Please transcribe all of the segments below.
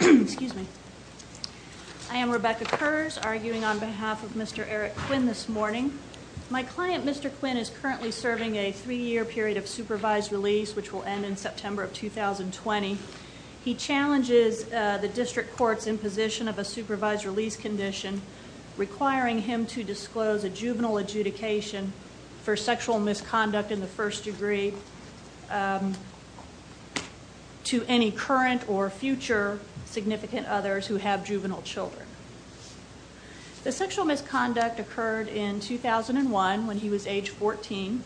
Excuse me. I am Rebecca Kurz arguing on behalf of Mr. Eric Quinn this morning. My client Mr. Quinn is currently serving a three-year period of supervised release which will end in September of 2020. He challenges the district courts in position of a supervised release condition requiring him to disclose a juvenile adjudication for sexual misconduct in the first degree to any current or future significant others who have juvenile children. The sexual misconduct occurred in 2001 when he was age 14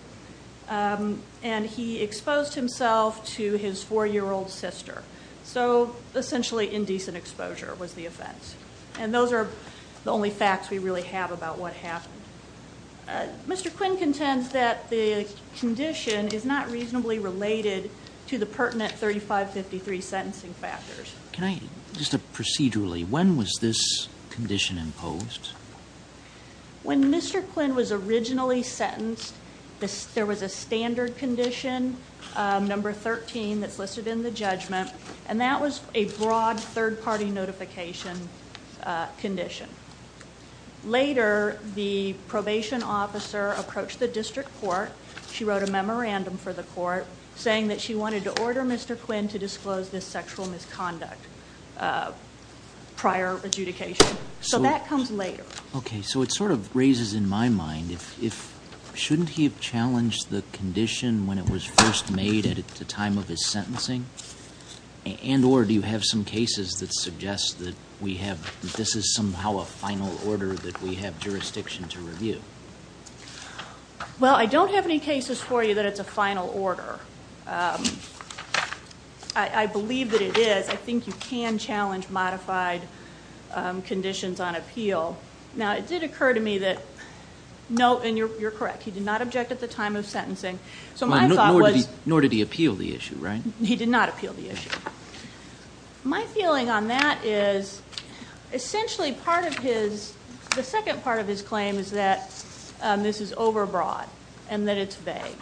and he exposed himself to his four-year-old sister. So essentially indecent exposure was the offense and those are the only facts we really have about what happened. Mr. Quinn contends that the condition is not reasonably related to the pertinent 3553 sentencing factors. Can I, just procedurally, when was this condition imposed? When Mr. Quinn was originally sentenced there was a standard condition number 13 that's listed in the judgment and that was a broad third-party notification condition. Later the probation officer approached the district court. She wrote a memorandum for the court saying that she wanted to order Mr. Quinn to disclose this sexual misconduct prior adjudication. So that comes later. Okay so it sort of raises in my mind if shouldn't he have challenged the condition when it was first made at the time of his sentencing and or do you have some cases that suggest that we have this is somehow a final order that we have jurisdiction to review? Well I don't have any cases for you that it's a final order. I believe that it is. I think you can challenge modified conditions on appeal. Now it did occur to me that no and you're correct he did not object at the time of sentencing. So my thought was nor did he appeal the issue right? He did not appeal the issue. My feeling on that is essentially part of his the second part of his claim is that this is overbroad and that it's vague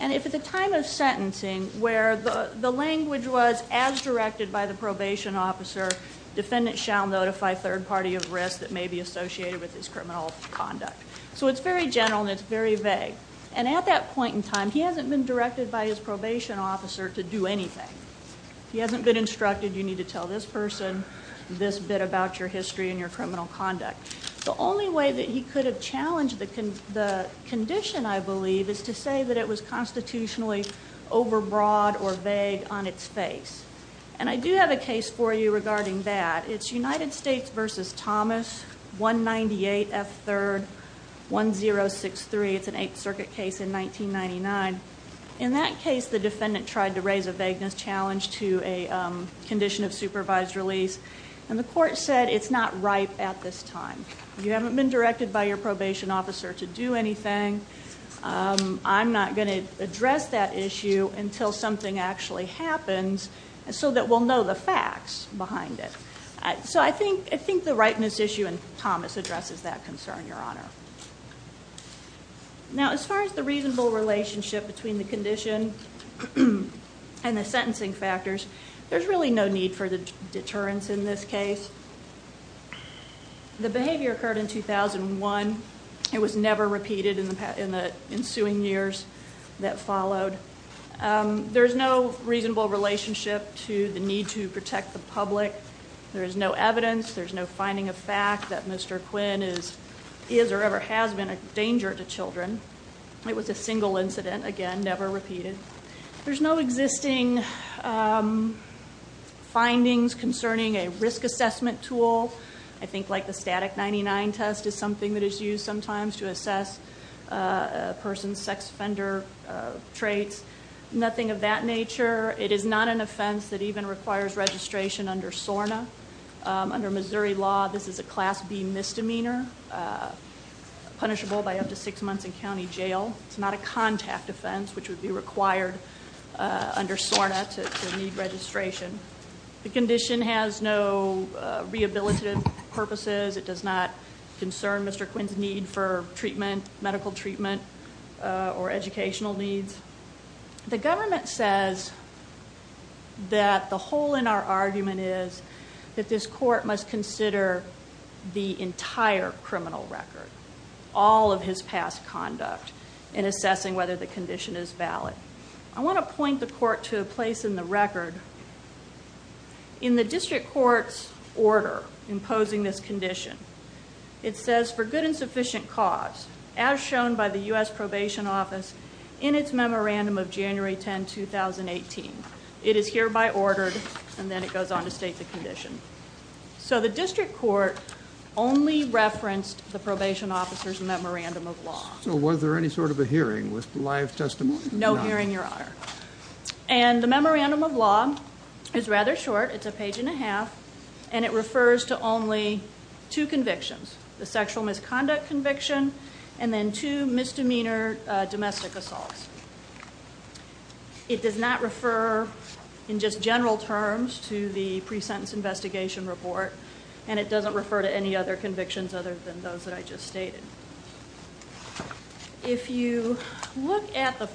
and if at the time of sentencing where the language was as directed by the probation officer defendant shall notify third party of risk that may be associated with this criminal conduct. So it's very general and it's very vague and at that point in time he hasn't been directed by his probation officer to do anything. He hasn't been instructed you to tell this person this bit about your history and your criminal conduct. The only way that he could have challenged the condition I believe is to say that it was constitutionally overbroad or vague on its face and I do have a case for you regarding that. It's United States versus Thomas 198 F 3rd 1063. It's an Eighth Circuit case in 1999. In that case the defendant tried to raise a supervised release and the court said it's not right at this time. You haven't been directed by your probation officer to do anything. I'm not going to address that issue until something actually happens and so that we'll know the facts behind it. So I think I think the rightness issue and Thomas addresses that concern your honor. Now as far as the reasonable relationship between the deterrence in this case. The behavior occurred in 2001. It was never repeated in the ensuing years that followed. There's no reasonable relationship to the need to protect the public. There is no evidence. There's no finding of fact that Mr. Quinn is is or ever has been a danger to children. It was a single incident again never repeated. There's no existing findings concerning a risk assessment tool. I think like the static 99 test is something that is used sometimes to assess a person's sex offender traits. Nothing of that nature. It is not an offense that even requires registration under SORNA. Under Missouri law this is a class B misdemeanor. Punishable by up to six months in county jail. It's not a contact offense which would be required under SORNA to need registration. The condition has no rehabilitative purposes. It does not concern Mr. Quinn's need for treatment medical treatment or educational needs. The government says that the hole in our argument is that this court must consider the entire criminal record. All of his past conduct in assessing whether the condition is valid. I want to point the court to a place in the record. In the district court's order imposing this condition it says for good and sufficient cause as shown by the US Probation Office in its memorandum of January 10, 2018. It is hereby ordered and then it goes on to state the district court only referenced the probation officer's memorandum of law. So was there any sort of a hearing with live testimony? No hearing your honor. And the memorandum of law is rather short. It's a page and a half and it refers to only two convictions. The sexual misconduct conviction and then two misdemeanor domestic assaults. It does not refer in just general terms to the pre-sentence investigation report and it doesn't refer to any other convictions other than those that I just stated. If you look at the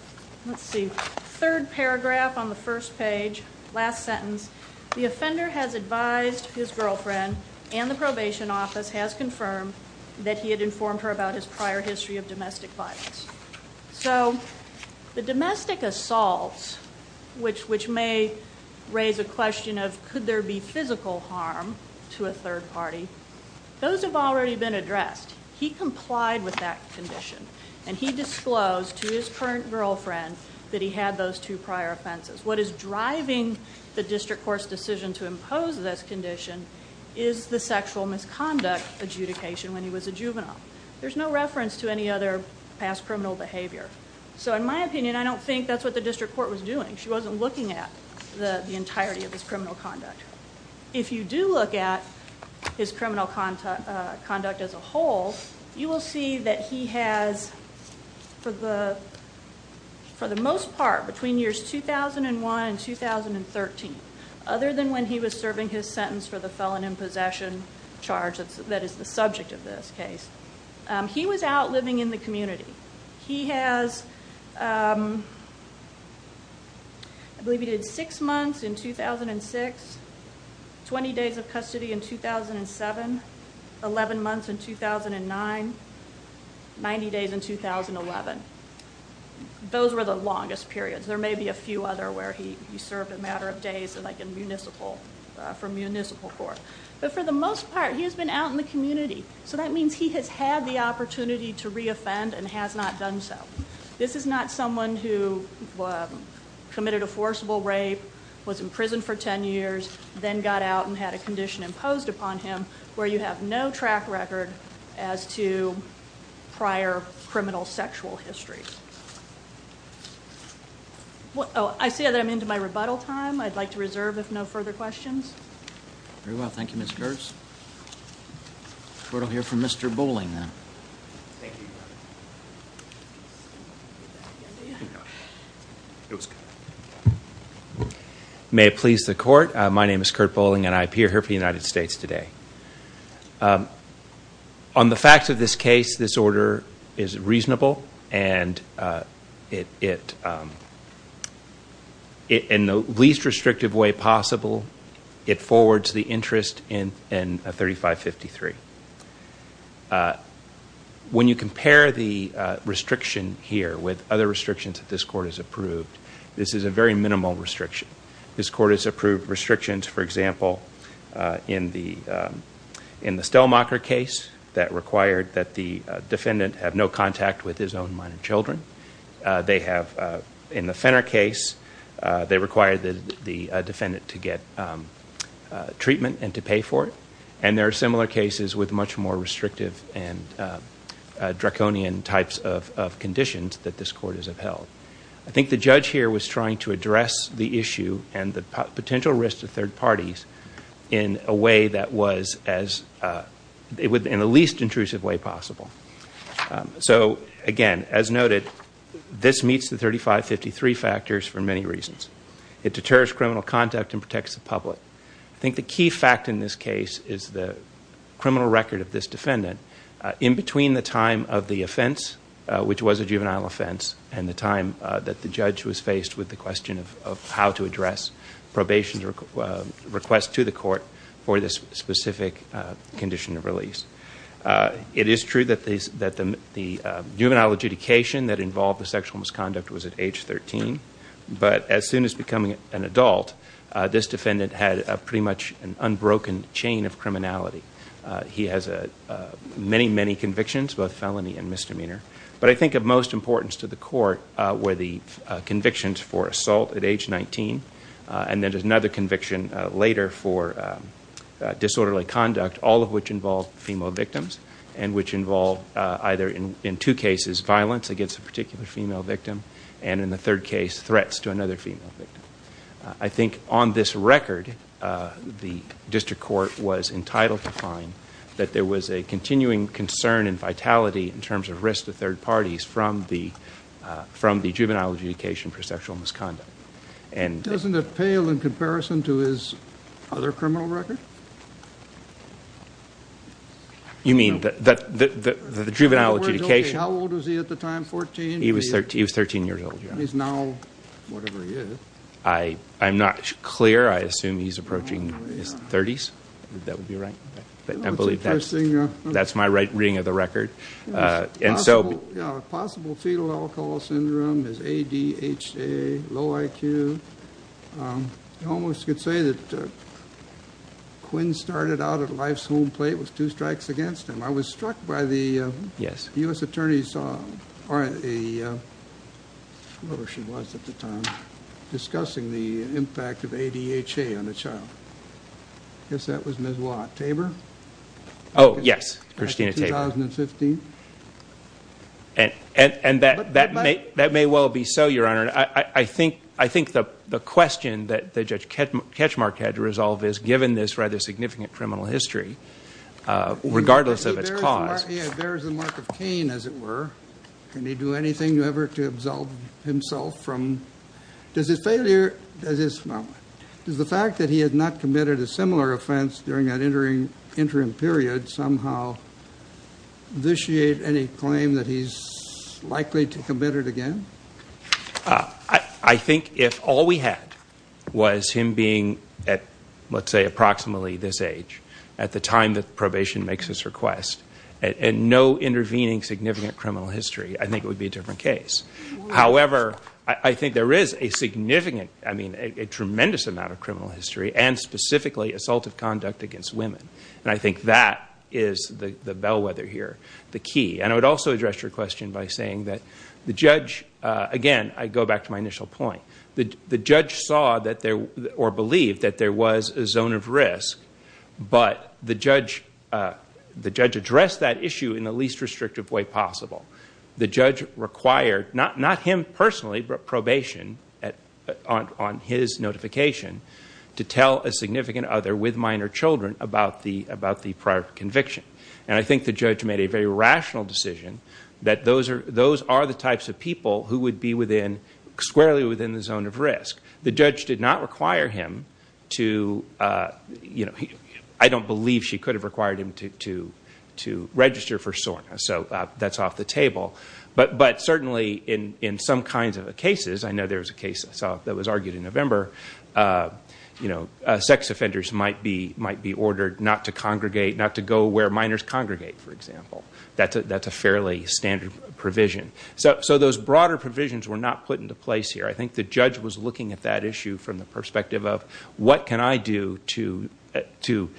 third paragraph on the first page, last sentence, the offender has advised his girlfriend and the probation office has confirmed that he had informed her about his prior history of domestic violence. So the domestic assaults, which may raise a question of could there be physical harm to a third party, those have already been addressed. He complied with that condition and he disclosed to his current girlfriend that he had those two prior offenses. What is driving the district court's decision to impose this condition is the sexual misconduct adjudication when he was a juvenile. There's no reference to any other past criminal behavior. So in my opinion I don't think that's what the district court was doing. She wasn't looking at the entirety of his criminal conduct. If you do look at his criminal conduct as a whole, you will see that he has, for the most part, between years 2001 and 2013, other than when he was serving his sentence for the felon in possession charge that is the subject of this case, he was out living in the community. He has, I believe he did six months in 2006, 20 days of custody in 2007, 11 months in 2009, 90 days in 2011. Those were the longest periods. There may be a few other where he served a matter of days like in municipal, for municipal court. But for the most part, he's been out in the community. So that means he has had the opportunity to reoffend and has not done so. This is not someone who committed a forcible rape, was in prison for 10 years, then got out and had a condition imposed upon him where you have no track record as to prior criminal sexual history. What? Oh, I see that I'm into my rebuttal time. I'd like to reserve if no further questions. Very well. Thank you, Miss Gers. We're going to hear from Mr. Bowling, then. May it please the court. My name is Kurt Bowling and I appear here for the United States today. On the facts of this case, this order is reasonable and it, in the least restrictive way possible, it forwards the interest in 3553. When you compare the restriction here with other restrictions that this court has approved, this is a very minimal restriction. This court has approved restrictions, for example, in the Stellmacher case that required that the defendant have no contact with his own minor children. They have, in the Fenner case, they require the defendant to get treatment and to pay for it. And there are similar cases with much more restrictive and draconian types of conditions that this court has upheld. I think the judge here was trying to address the issue and the potential risk to third parties in a way that was as, in the least intrusive way possible. So, again, as noted, this meets the 3553 factors for many reasons. It deters criminal contact and protects the public. I think the key fact in this case is the criminal record of this defendant. In between the time of the offense, which was a juvenile offense, and the time that the judge was faced with the question of how to address probation request to the court for this specific condition of release. It is true that the juvenile adjudication that involved the sexual misconduct was at age 13. But as soon as becoming an adult, this defendant had pretty much an unbroken chain of criminality. He has many, many convictions, both felony and misdemeanor. But I think of most importance to the court were the And then there's another conviction later for disorderly conduct, all of which involved female victims, and which involved either in two cases, violence against a particular female victim, and in the third case, threats to another female victim. I think on this record, the district court was entitled to find that there was a continuing concern and vitality in terms of risk to third parties from the juvenile adjudication for sexual misconduct. And doesn't it pale in comparison to his other criminal record? You mean that the juvenile adjudication? How old was he at the time? 14? He was 13. He was 13 years old. He's now whatever he is. I'm not clear. I assume he's approaching his thirties. That would be right. I believe that's my right reading of the record. And so possible fetal alcohol syndrome is a D. H. A. Low I. Q. You almost could say that Quinn started out at life's home plate with two strikes against him. I was struck by the U. S. Attorney's song or a whoever she was at the time discussing the impact of a D. H. A. On the child. Yes, that was Miss Watt Tabor. Oh, yes, Christina, 10,015. And and that that that may well be so, Your Honor. I think I think the question that the judge catch catch mark had to resolve is given this rather significant criminal history, uh, regardless of its cause, there's a mark of Cain, as it were. Can he do anything you ever to absolve himself from? Does his failure at this moment is the fact that he had not committed a similar offense during that entering interim period somehow vitiate any claim that he's likely to commit it again? I think if all we had was him being at, let's say, approximately this age at the time that probation makes his request and no intervening significant criminal history, I think it would be a different case. However, I think there is a significant, I mean, a tremendous amount of criminal history and specifically assault of conduct against women. And I think that is the bellwether here. The key. And I would also address your question by saying that the judge again, I go back to my initial point. The judge saw that there or believed that there was a zone of risk. But the judge, uh, the judge addressed that issue in the least restrictive way possible. The judge required not, not him personally, but probation at on, on his notification to tell a significant other with minor children about the, about the prior conviction. And I think the judge made a very rational decision that those are, those are the types of people who would be within squarely within the zone of risk. The judge did not require him to, uh, you know, I don't believe she could have required him to, to, to register for SORNA. So that's off the table. But, but certainly in, in some kinds of cases, I know there was a case that was argued in November, uh, you know, uh, sex offenders might be, might be ordered not to congregate, not to go where minors congregate, for example. That's a, that's a fairly standard provision. So, so those broader provisions were not put into place here. I think the judge was looking at that issue from the perspective of what can I do to, uh, to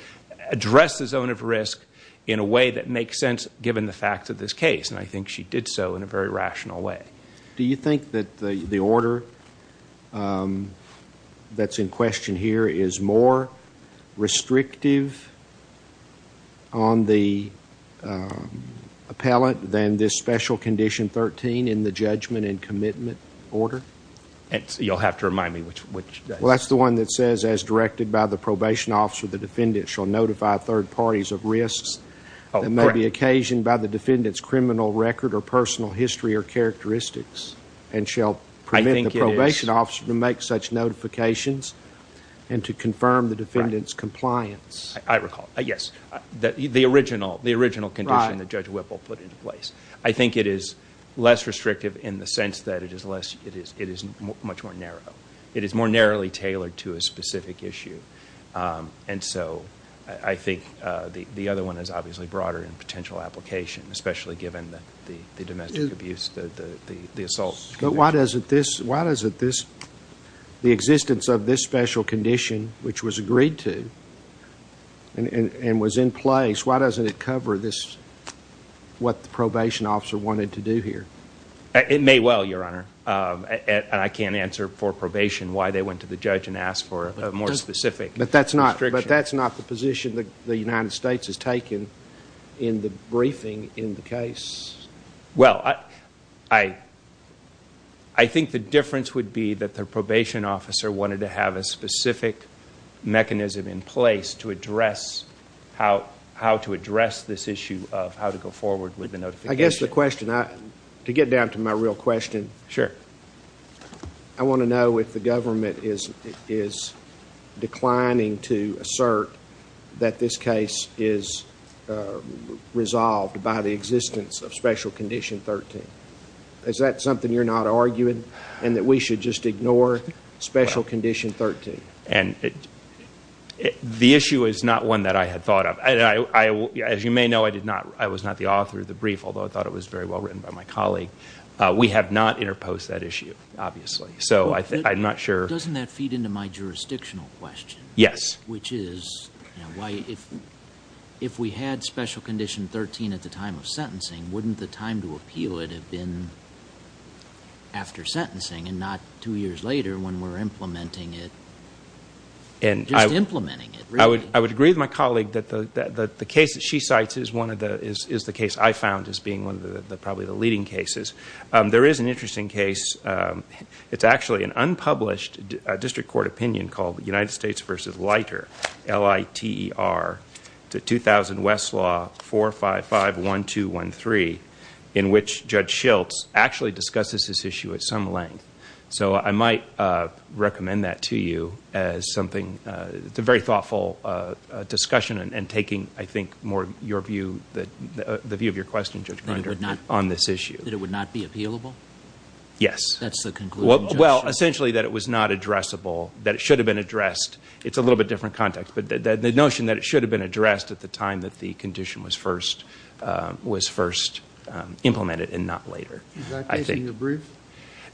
address the zone of risk in a way that makes sense given the facts of this case. And I think she did so in a very rational way. Do you think that the, the order, um, that's in question here is more restrictive on the, um, appellate than this special condition 13 in the judgment and commitment order? It's, you'll have to remind me which, which case. Well, that's the one that says as directed by the probation officer, the defendant shall notify third parties of risks that may be occasioned by the defendant's criminal record or personal history or characteristics and shall permit the probation officer to make such notifications and to confirm the defendant's compliance. I recall, yes. The, the original, the original condition that Judge Whipple put into place. I think it is less restrictive in the sense that it is less, it is, it is much more narrow. It is more narrowly tailored to a specific issue. Um, and so I think, uh, the, the other one is obviously broader in potential application, especially given the, the, the domestic abuse, the, the, the, the assault. But why doesn't this, why does it, this, the existence of this special condition, which was agreed to and, and, and was in place, why doesn't it cover this, what the probation officer wanted to do here? It may well, your honor. Um, and I can't answer for why they went to the judge and asked for a more specific. But that's not, but that's not the position that the United States has taken in the briefing in the case. Well, I, I, I think the difference would be that their probation officer wanted to have a specific mechanism in place to address how, how to address this issue of how to go forward with the notification. I guess the question I, to get down to my real question. Sure. I want to know if the government is, is declining to assert that this case is, uh, resolved by the existence of special condition 13. Is that something you're not arguing? And that we should just ignore special condition 13. And it, it, the issue is not one that I had thought of. I, I, as you may know, I did not, I was not the author of the brief, although I thought it was very well written by my colleague. Uh, we have not interposed that issue, obviously. So I think, I'm not sure. Doesn't that feed into my jurisdictional question? Yes. Which is why if, if we had special condition 13 at the time of sentencing, wouldn't the time to appeal it have been after sentencing and not two years later when we're implementing it? And I would, I would agree with my colleague that the, that the case that she cites is one of the, is, is the case I found as being one of the, the, probably the leading cases. Um, there is an interesting case. Um, it's actually an unpublished, uh, district court opinion called the United States versus Leiter, L-I-T-E-R, the 2000 Westlaw 455-1213, in which Judge Schiltz actually discusses this issue at some length. So I might, uh, recommend that to you as something, uh, it's a very thoughtful, uh, uh, discussion and, and taking, I think, more of your view, the, uh, the view of your question, Judge Grinder, on this issue. That it would not be appealable? Yes. That's the conclusion. Well, well, essentially that it was not addressable, that it should have been addressed. It's a little bit different context, but the, the, the notion that it should have been addressed at the time that the condition was first, uh, was first, um, implemented and not later, I think. Is that taking a brief?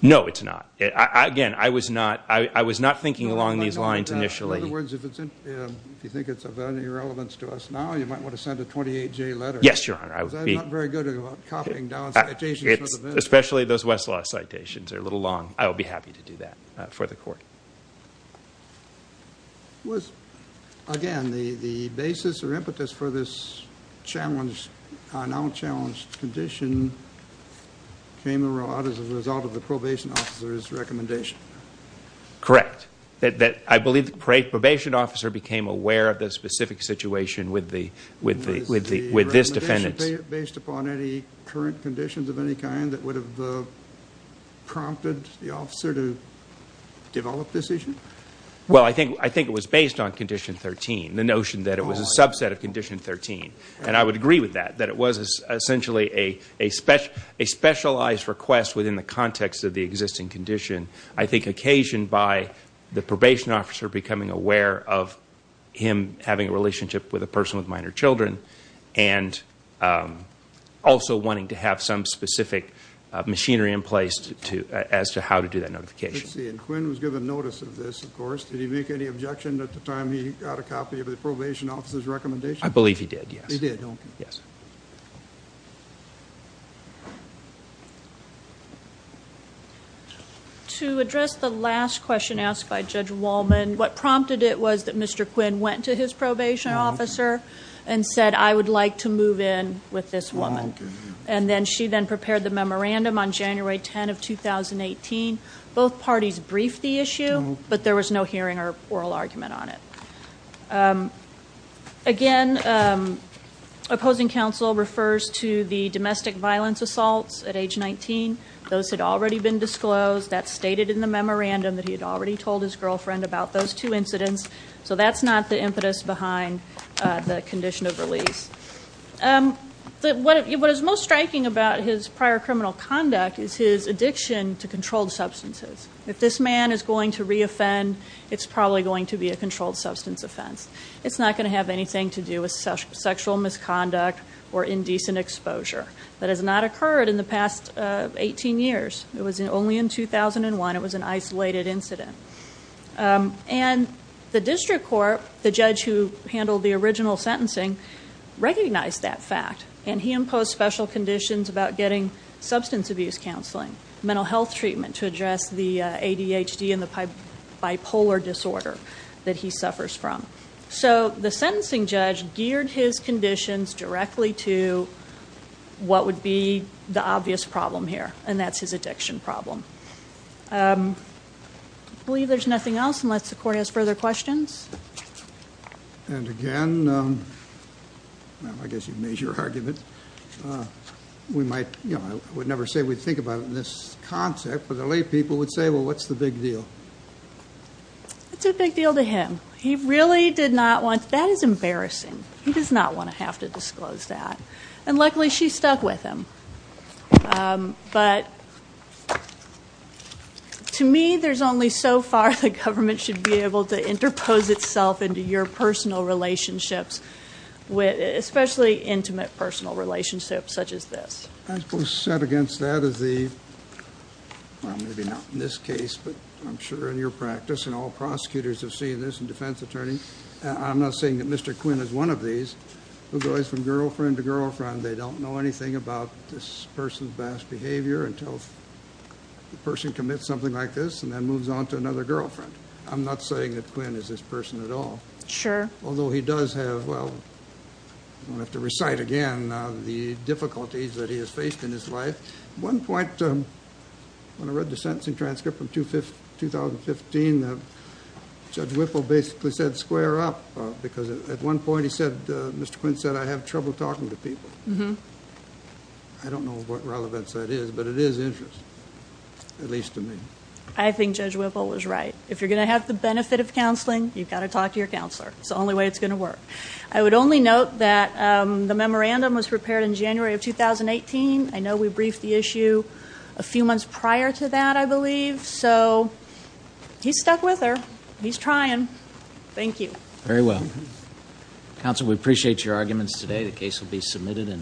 No, it's not. Again, I was not, I, I was not thinking along these lines initially. In other words, if it's, uh, if you think it's of any relevance to us now, you might want to send a 28-J letter. Yes, Your Honor. I would be. Because I'm not very good about copying down citations. It's, especially those Westlaw citations. They're a little long. I would be happy to do that, uh, for the Court. Was, again, the, the basis or impetus for this challenge, uh, now challenged condition came and rolled out as a result of the probation officer's recommendation? Correct. That, that, I believe the probation officer became aware of the specific situation with the, with the, with the, with this defendant. Based upon any current conditions of any kind that would have, uh, prompted the officer to develop this issue? Well, I think, I think it was based on condition 13. The notion that it was a subset of a specialized request within the context of the existing condition. I think occasioned by the probation officer becoming aware of him having a relationship with a person with minor children and, um, also wanting to have some specific machinery in place to, as to how to do that notification. Let's see, and Quinn was given notice of this, of course. Did he make any objection at the time he got a notice? To address the last question asked by Judge Wallman, what prompted it was that Mr. Quinn went to his probation officer and said, I would like to move in with this woman. And then she then prepared the memorandum on January 10 of 2018. Both parties briefed the issue, but there was no hearing or oral argument on it. Um, again, um, opposing counsel refers to the domestic violence assaults at age 19. Those had already been disclosed. That's stated in the memorandum that he had already told his girlfriend about those two incidents. So that's not the impetus behind the condition of release. Um, what is most striking about his prior criminal conduct is his addiction to controlled substances. If this man is going to re-offend, it's probably going to be a controlled substance offense. It's not going to have anything to do with sexual misconduct or indecent exposure. That has not occurred in the past, uh, 18 years. It was only in 2001. It was an isolated incident. Um, and the district court, the judge who handled the original sentencing, recognized that fact. And he imposed special conditions about getting substance abuse counseling, mental health treatment to address the, uh, ADHD and the bipolar disorder that he suffers from. So the sentencing judge geared his conditions directly to what would be the obvious problem here. And that's his addiction problem. Um, I believe there's nothing else unless the court has further questions. And again, um, I guess you've made your argument. Uh, we might, you know, I would never say we think about it in this concept, but the lay people would say, well, what's the big deal? It's a big deal to him. He really did not want, that is embarrassing. He does not want to have to disclose that. And luckily she stuck with him. Um, but to me, there's only so far the government should be able to interpose itself into your personal relationships with especially intimate personal relationships such as this. I suppose set against that is the, well, maybe not in this case, but I'm sure in your practice and all prosecutors have seen this and defense attorney, I'm not saying that Mr. Quinn is one of these who goes from girlfriend to girlfriend. They don't know anything about this person's best behavior until the person commits something like this and then moves on to another girlfriend. I'm not saying that Quinn is this person at all. Sure. Although he does have, well, I'm going to have to recite again, uh, the difficulties that he has faced in his life. One point, um, when I read the sentencing transcript from two 50, 2015, uh, judge Whipple basically said square up, uh, because at one point he said, uh, Mr. Quinn said, I have trouble talking to people. I don't know what relevance that is, but it is interesting. At least to me, I think judge Whipple was right. If you're going to have the benefit of counseling, you've got to talk to your counselor. It's the only note that, um, the memorandum was prepared in January of 2018. I know we briefed the issue a few months prior to that, I believe. So he's stuck with her. He's trying. Thank you very well. Counsel. We appreciate your arguments today. The case will be submitted and